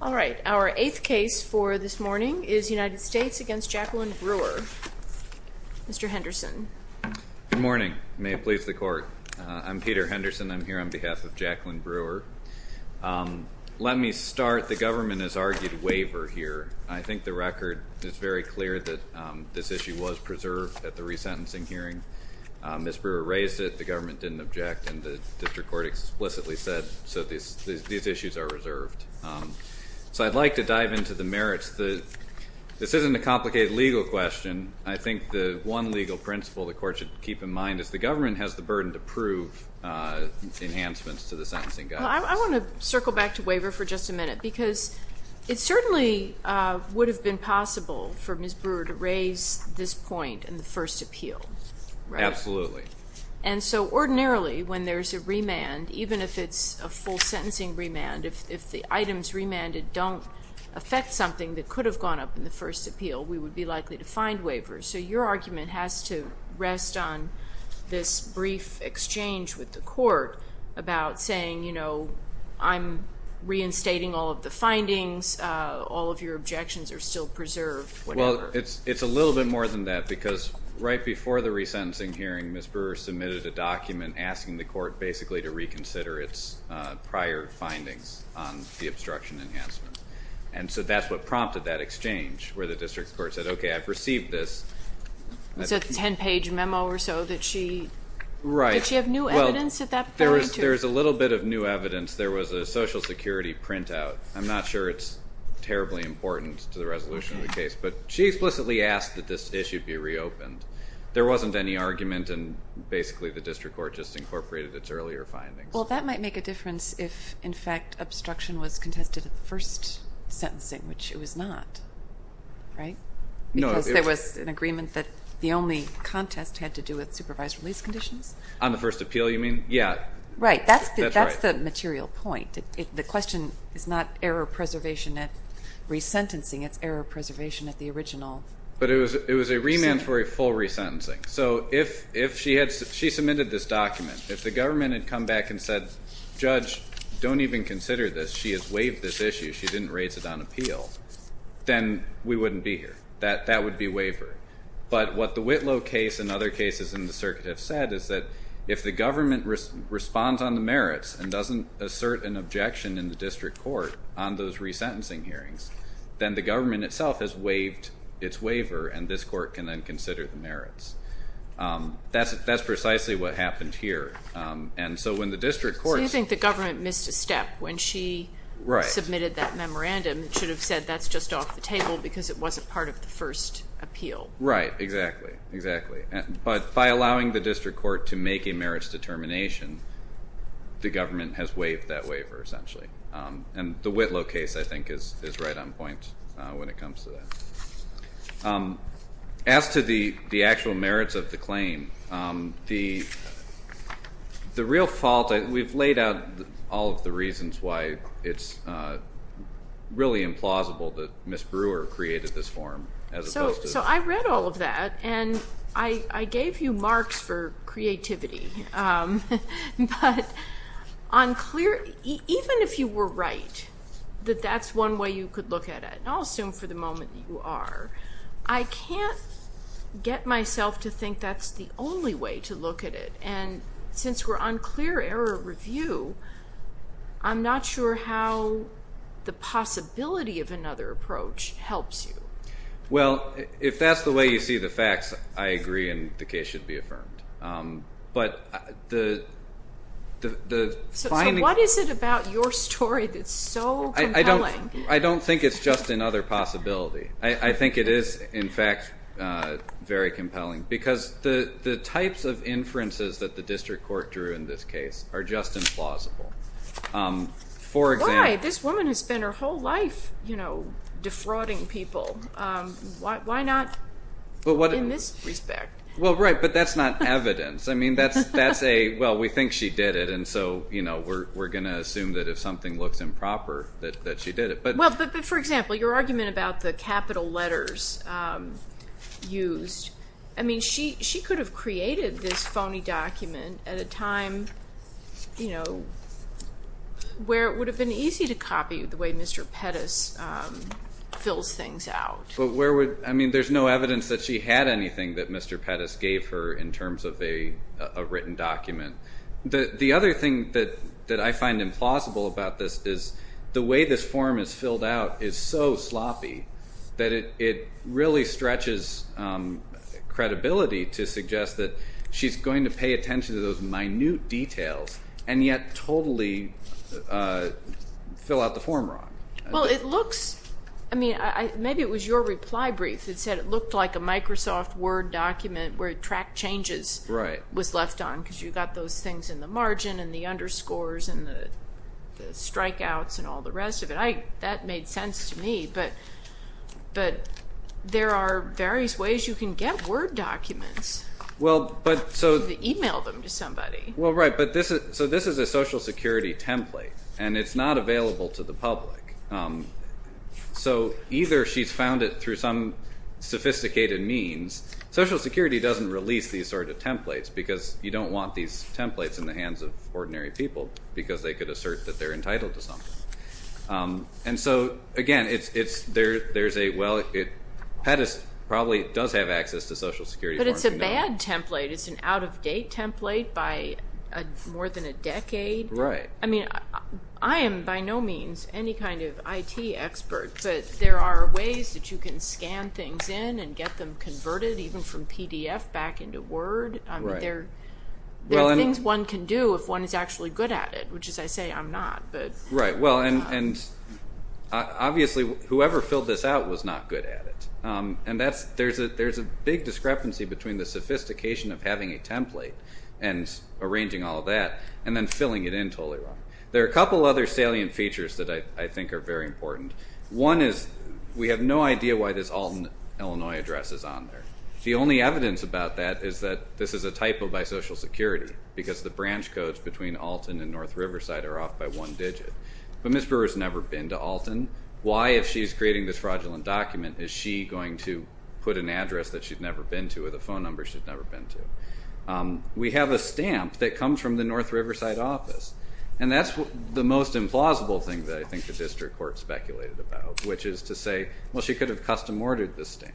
All right. Our eighth case for this morning is United States v. Jacqueline Brewer. Mr. Henderson. Good morning. May it please the Court. I'm Peter Henderson. I'm here on behalf of Jacqueline Brewer. Let me start. The government has argued waiver here. I think the record is very clear that this issue was preserved at the resentencing hearing. Ms. Brewer raised it. The government didn't object, and the district court explicitly said, so these issues are reserved. So I'd like to dive into the merits. This isn't a complicated legal question. I think the one legal principle the Court should keep in mind is the government has the burden to prove enhancements to the sentencing guidance. I want to circle back to waiver for just a minute because it certainly would have been possible for Ms. Brewer to raise this point in the first appeal, right? Absolutely. And so ordinarily when there's a remand, even if it's a full sentencing remand, if the items remanded don't affect something that could have gone up in the first appeal, we would be likely to find waiver. So your argument has to rest on this brief exchange with the Court about saying, you know, I'm reinstating all of the findings, all of your objections are still preserved, whatever. Well, it's a little bit more than that because right before the resentencing hearing, Ms. Brewer submitted a document asking the Court basically to reconsider its prior findings on the obstruction enhancement. And so that's what prompted that exchange where the District Court said, okay, I've received this. It's a 10-page memo or so that she, did she have new evidence at that point? Well, there is a little bit of new evidence. There was a Social Security printout. I'm not sure it's terribly important to the resolution of the case, but she explicitly asked that this issue be reopened. There wasn't any argument and basically the District Court just incorporated its earlier findings. Well, that might make a difference if, in fact, obstruction was contested at the first sentencing, which it was not, right? Because there was an agreement that the only contest had to do with supervised release conditions? On the first appeal, you mean? Yeah. Right. That's the material point. The question is not error preservation at resentencing, it's error preservation at the original. But it was a remand for a full resentencing. So if she submitted this document, if the government had come back and said, judge, don't even consider this. She has waived this issue. She didn't raise it on appeal. Then we wouldn't be here. That would be waiver. But what the Whitlow case and other cases in the circuit have said is that if the government responds on the merits and doesn't assert an objection in the District Court on those resentencing hearings, then the government itself has waived its waiver and this court can then consider the merits. That's precisely what happened here. So you think the government missed a step when she submitted that memorandum. It should have said that's just off the table because it wasn't part of the first appeal. Right. Exactly. But by allowing the District Court to make a merits determination, the government has waived that waiver, essentially. And the Whitlow case, I think, is right on point when it comes to that. As to the actual merits of the claim, the real fault, we've laid out all of the reasons why it's really implausible that Ms. Brewer created this form. So I read all of that, and I gave you marks for creativity. But even if you were right that that's one way you could look at it, and I'll assume for the moment that you are, I can't get myself to think that's the only way to look at it. And since we're on clear error review, I'm not sure how the possibility of another approach helps you. Well, if that's the way you see the facts, I agree and the case should be affirmed. So what is it about your story that's so compelling? I don't think it's just another possibility. I think it is, in fact, very compelling because the types of inferences that the District Court drew in this case are just implausible. Why? This woman has spent her whole life defrauding people. Why not in this respect? Well, right, but that's not evidence. I mean, that's a, well, we think she did it, and so we're going to assume that if something looks improper that she did it. Well, but for example, your argument about the capital letters used, I mean, she could have created this phony document at a time where it would have been easy to copy the way Mr. Pettis fills things out. But where would, I mean, there's no evidence that she had anything that Mr. Pettis gave her in terms of a written document. The other thing that I find implausible about this is the way this form is filled out is so sloppy that it really stretches credibility to suggest that she's going to pay attention to those minute details and yet totally fill out the form wrong. Well, it looks, I mean, maybe it was your reply brief that said it looked like a Microsoft Word document where it tracked changes was left on because you got those things in the margin and the underscores and the strikeouts and all the rest of it. That made sense to me, but there are various ways you can get Word documents. Well, but so. You can email them to somebody. Well, right, but so this is a Social Security template, and it's not available to the public. So either she's found it through some sophisticated means. Social Security doesn't release these sort of templates because you don't want these templates in the hands of ordinary people because they could assert that they're entitled to something. And so, again, there's a, well, Pettis probably does have access to Social Security. But it's a bad template. It's an out-of-date template by more than a decade. Right. I mean, I am by no means any kind of IT expert, but there are ways that you can scan things in and get them converted even from PDF back into Word. Right. There are things one can do if one is actually good at it, which is I say I'm not. Right, well, and obviously whoever filled this out was not good at it. And there's a big discrepancy between the sophistication of having a template and arranging all that and then filling it in totally wrong. There are a couple other salient features that I think are very important. One is we have no idea why this Alton, Illinois address is on there. The only evidence about that is that this is a typo by Social Security because the branch codes between Alton and North Riverside are off by one digit. But Ms. Brewer has never been to Alton. Why, if she's creating this fraudulent document, is she going to put an address that she's never been to or the phone number she's never been to? We have a stamp that comes from the North Riverside office, and that's the most implausible thing that I think the district court speculated about, which is to say, well, she could have custom-ordered this stamp.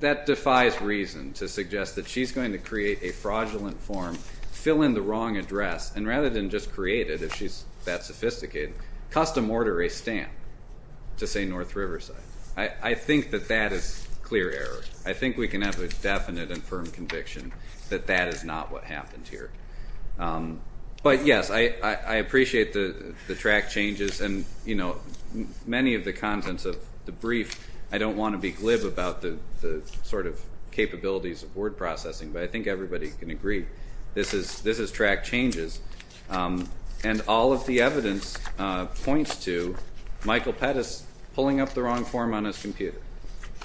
That defies reason to suggest that she's going to create a fraudulent form, fill in the wrong address, and rather than just create it if she's that sophisticated, custom-order a stamp to say North Riverside. I think that that is clear error. I think we can have a definite and firm conviction that that is not what happened here. But, yes, I appreciate the track changes and, you know, many of the contents of the brief, I don't want to be glib about the sort of capabilities of word processing, but I think everybody can agree this is track changes. And all of the evidence points to Michael Pettis pulling up the wrong form on his computer.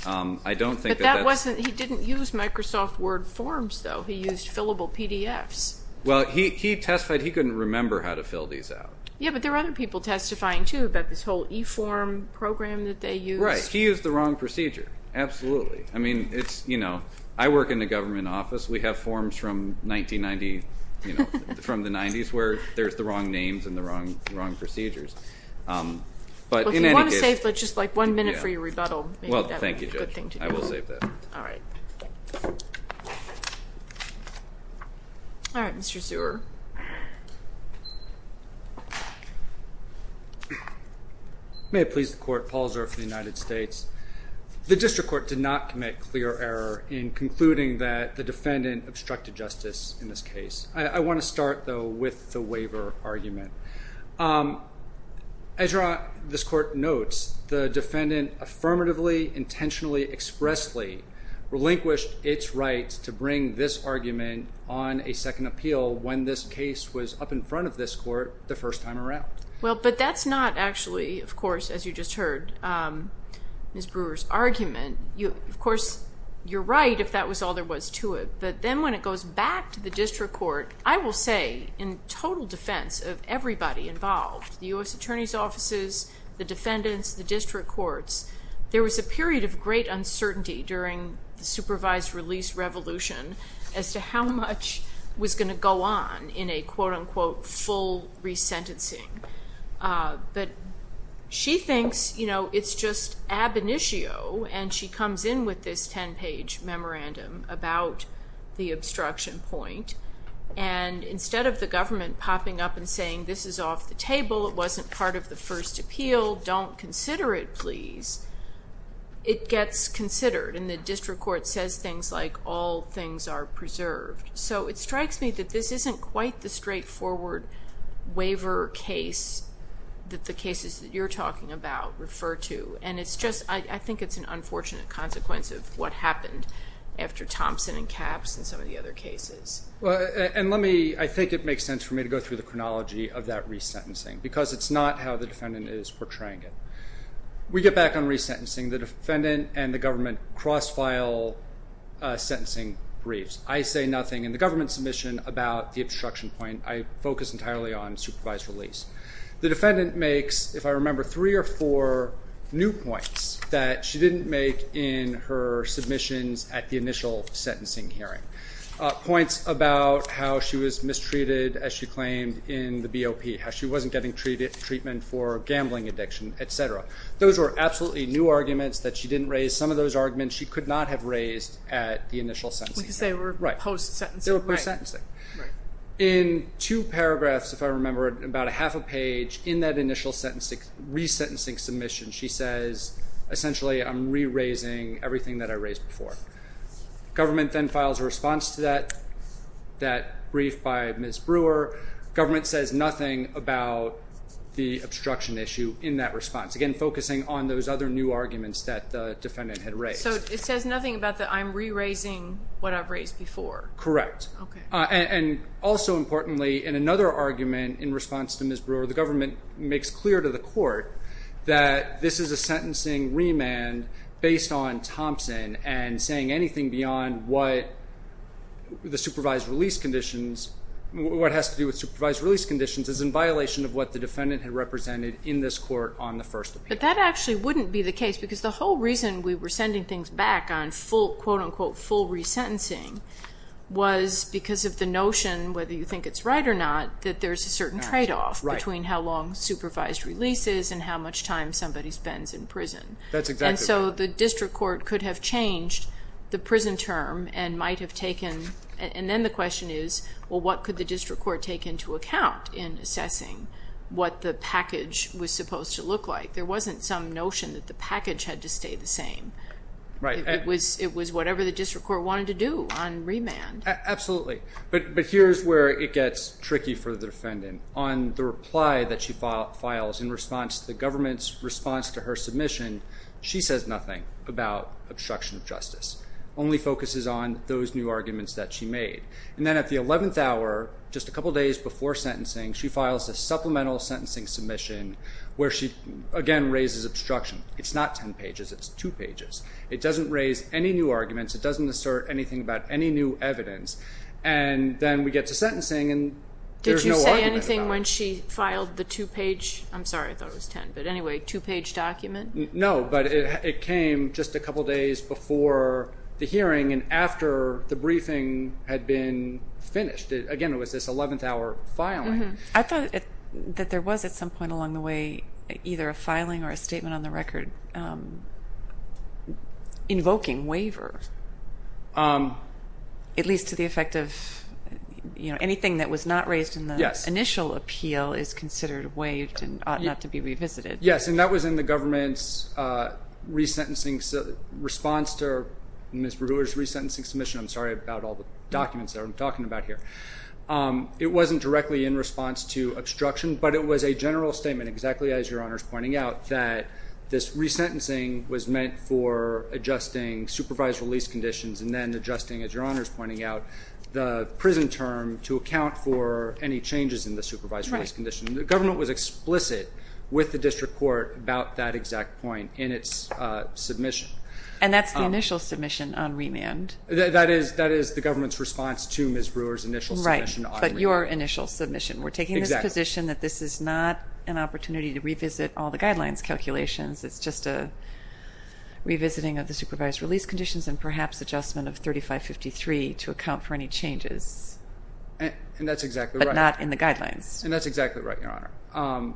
I don't think that that's... But that wasn't, he didn't use Microsoft Word forms, though. He used fillable PDFs. Well, he testified he couldn't remember how to fill these out. Yeah, but there are other people testifying, too, about this whole e-form program that they used. Right. He used the wrong procedure. Absolutely. I mean, it's, you know, I work in the government office. We have forms from 1990, you know, from the 90s where there's the wrong names and the wrong procedures. But in any case... Well, if you want to save just like one minute for your rebuttal, maybe that would be a good thing to do. Well, thank you, Judge. I will save that. All right. All right, Mr. Zuer. May it please the Court. Paul Zuer for the United States. The District Court did not commit clear error in concluding that the defendant obstructed justice in this case. I want to start, though, with the waiver argument. As this Court notes, the defendant affirmatively, intentionally, expressly relinquished its right to bring this argument on a second appeal when this case was up in front of this Court the first time around. Well, but that's not actually, of course, as you just heard, Ms. Brewer's argument. Of course, you're right if that was all there was to it. But then when it goes back to the District Court, I will say in total defense of everybody involved, the U.S. Attorney's offices, the defendants, the District Courts, there was a period of great uncertainty during the supervised release revolution as to how much was going to go on in a, quote, unquote, full resentencing. But she thinks, you know, it's just ab initio, and she comes in with this 10-page memorandum about the obstruction point. And instead of the government popping up and saying this is off the table, it wasn't part of the first appeal, don't consider it, please, it gets considered. And the District Court says things like all things are preserved. So it strikes me that this isn't quite the straightforward waiver case that the cases that you're talking about refer to. And it's just, I think it's an unfortunate consequence of what happened after Thompson and Capps and some of the other cases. Well, and let me, I think it makes sense for me to go through the chronology of that resentencing because it's not how the defendant is portraying it. We get back on resentencing. The defendant and the government cross-file sentencing briefs. I say nothing in the government submission about the obstruction point. I focus entirely on supervised release. The defendant makes, if I remember, three or four new points that she didn't make in her submissions at the initial sentencing hearing. Points about how she was mistreated, as she claimed, in the BOP, how she wasn't getting treatment for gambling addiction, etc. Those were absolutely new arguments that she didn't raise. Some of those arguments she could not have raised at the initial sentencing hearing. Because they were post-sentencing. They were post-sentencing. In two paragraphs, if I remember, about a half a page in that initial resentencing submission, she says essentially I'm re-raising everything that I raised before. Government then files a response to that brief by Ms. Brewer. Government says nothing about the obstruction issue in that response. Again, focusing on those other new arguments that the defendant had raised. So it says nothing about the I'm re-raising what I've raised before? Correct. Okay. And also importantly, in another argument in response to Ms. Brewer, the government makes clear to the court that this is a sentencing remand based on Thompson and saying anything beyond what the supervised release conditions, what has to do with supervised release conditions, is in violation of what the defendant had represented in this court on the first appeal. But that actually wouldn't be the case. Because the whole reason we were sending things back on full, quote, unquote, full resentencing, was because of the notion, whether you think it's right or not, that there's a certain tradeoff between how long supervised release is and how much time somebody spends in prison. That's exactly right. And so the district court could have changed the prison term and might have taken, and then the question is, well, what could the district court take into account in assessing what the package was supposed to look like? There wasn't some notion that the package had to stay the same. Right. It was whatever the district court wanted to do on remand. Absolutely. But here's where it gets tricky for the defendant. On the reply that she files in response to the government's response to her submission, she says nothing about obstruction of justice, only focuses on those new arguments that she made. And then at the 11th hour, just a couple days before sentencing, she files a supplemental sentencing submission where she, again, raises obstruction. It's not ten pages. It's two pages. It doesn't raise any new arguments. It doesn't assert anything about any new evidence. And then we get to sentencing, and there's no argument about it. Did you say anything when she filed the two-page? I'm sorry. I thought it was ten, but anyway, two-page document? No, but it came just a couple days before the hearing and after the briefing had been finished. Again, it was this 11th hour filing. I thought that there was, at some point along the way, either a filing or a statement on the record invoking waiver, at least to the effect of anything that was not raised in the initial appeal is considered waived and ought not to be revisited. Yes, and that was in the government's response to Ms. Brewer's resentencing submission. I'm sorry about all the documents that I'm talking about here. It wasn't directly in response to obstruction, but it was a general statement exactly as Your Honor is pointing out, that this resentencing was meant for adjusting supervised release conditions and then adjusting, as Your Honor is pointing out, the prison term to account for any changes in the supervised release condition. The government was explicit with the district court about that exact point in its submission. And that's the initial submission on remand. That is the government's response to Ms. Brewer's initial submission on remand. Right, but your initial submission. We're taking this position that this is not an opportunity to revisit all the guidelines calculations. It's just a revisiting of the supervised release conditions and perhaps adjustment of 3553 to account for any changes. And that's exactly right. But not in the guidelines. And that's exactly right, Your Honor.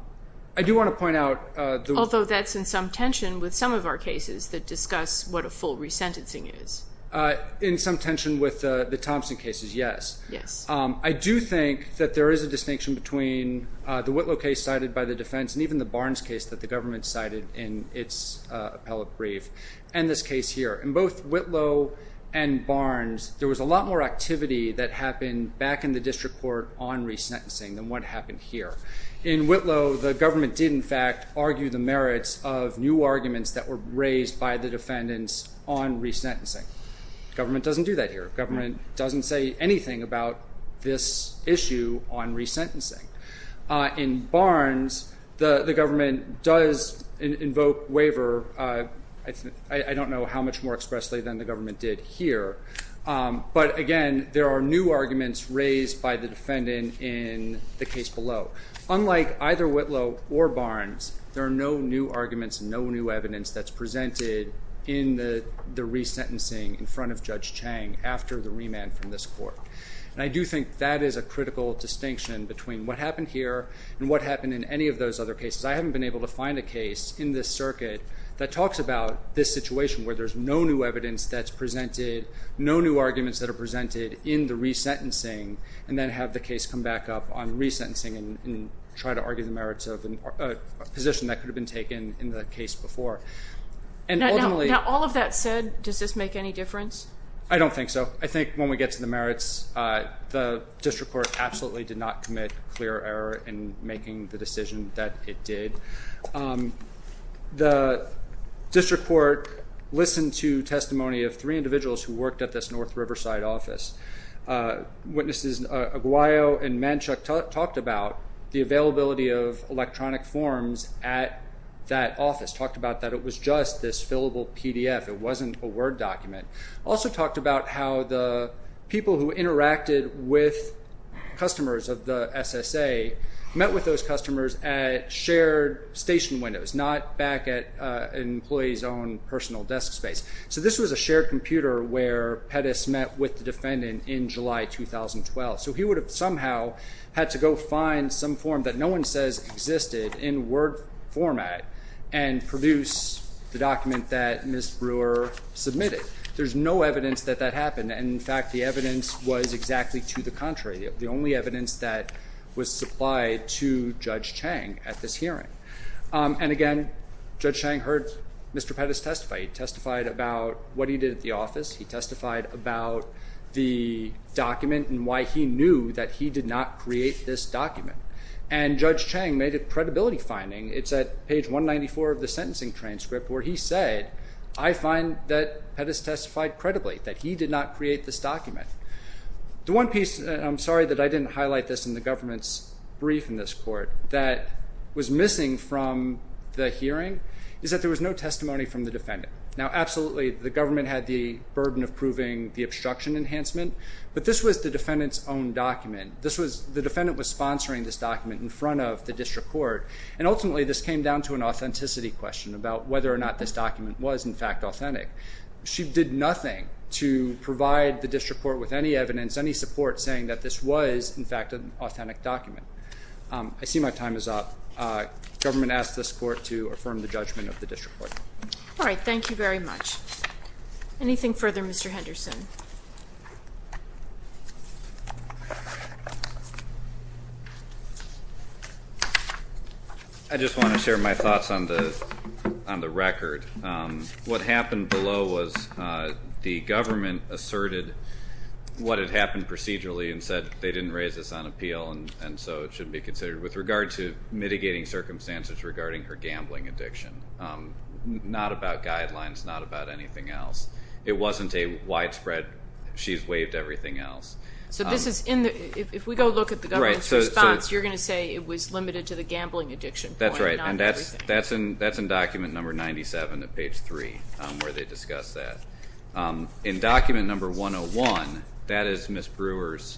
I do want to point out the- Although that's in some tension with some of our cases that discuss what a full resentencing is. In some tension with the Thompson cases, yes. Yes. I do think that there is a distinction between the Whitlow case cited by the defense and even the Barnes case that the government cited in its appellate brief and this case here. In both Whitlow and Barnes, there was a lot more activity that happened back in the district court on resentencing than what happened here. In Whitlow, the government did, in fact, argue the merits of new arguments that were raised by the defendants on resentencing. Government doesn't do that here. Government doesn't say anything about this issue on resentencing. In Barnes, the government does invoke waiver. I don't know how much more expressly than the government did here. But, again, there are new arguments raised by the defendant in the case below. Unlike either Whitlow or Barnes, there are no new arguments, no new evidence that's presented in the resentencing in front of Judge Chang after the remand from this court. And I do think that is a critical distinction between what happened here and what happened in any of those other cases. I haven't been able to find a case in this circuit that talks about this situation where there's no new evidence that's presented, no new arguments that are presented in the resentencing, and then have the case come back up on resentencing and try to argue the merits of a position that could have been taken in the case before. Now, all of that said, does this make any difference? I don't think so. I think when we get to the merits, the district court absolutely did not commit clear error in making the decision that it did. The district court listened to testimony of three individuals who worked at this North Riverside office. Witnesses Aguayo and Manchuk talked about the availability of electronic forms at that office, talked about that it was just this fillable PDF. It wasn't a Word document. Also talked about how the people who interacted with customers of the SSA met with those customers at shared station windows, not back at an employee's own personal desk space. So this was a shared computer where Pettis met with the defendant in July 2012. So he would have somehow had to go find some form that no one says existed in Word format and produce the document that Ms. Brewer submitted. There's no evidence that that happened. In fact, the evidence was exactly to the contrary, the only evidence that was supplied to Judge Chang at this hearing. And again, Judge Chang heard Mr. Pettis testify. He testified about what he did at the office. He testified about the document and why he knew that he did not create this document. And Judge Chang made a credibility finding. It's at page 194 of the sentencing transcript where he said, I find that Pettis testified credibly, that he did not create this document. The one piece, and I'm sorry that I didn't highlight this in the government's brief in this court, that was missing from the hearing is that there was no testimony from the defendant. Now, absolutely, the government had the burden of proving the obstruction enhancement, but this was the defendant's own document. The defendant was sponsoring this document in front of the district court, and ultimately this came down to an authenticity question about whether or not this document was, in fact, authentic. She did nothing to provide the district court with any evidence, any support saying that this was, in fact, an authentic document. I see my time is up. Government asks this court to affirm the judgment of the district court. All right, thank you very much. Anything further, Mr. Henderson? I just want to share my thoughts on the record. What happened below was the government asserted what had happened procedurally and said they didn't raise this on appeal, and so it should be considered with regard to mitigating circumstances regarding her gambling addiction. Not about guidelines, not about anything else. It wasn't a widespread, she's waived everything else. So this is in the, if we go look at the government's response, you're going to say it was limited to the gambling addiction point and not everything. That's right, and that's in document number 97 of page 3 where they discuss that. In document number 101, that is Ms. Brewer's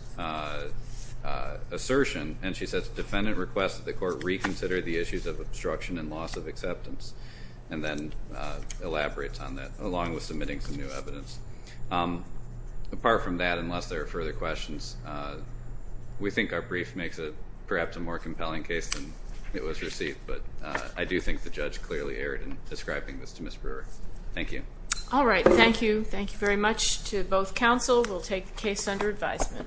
assertion, and she says the defendant requests that the court reconsider the issues of obstruction and loss of acceptance, and then elaborates on that along with submitting some new evidence. Apart from that, unless there are further questions, we think our brief makes it perhaps a more compelling case than it was received, but I do think the judge clearly erred in describing this to Ms. Brewer. Thank you. All right, thank you. Thank you very much to both counsel. We'll take the case under advisement.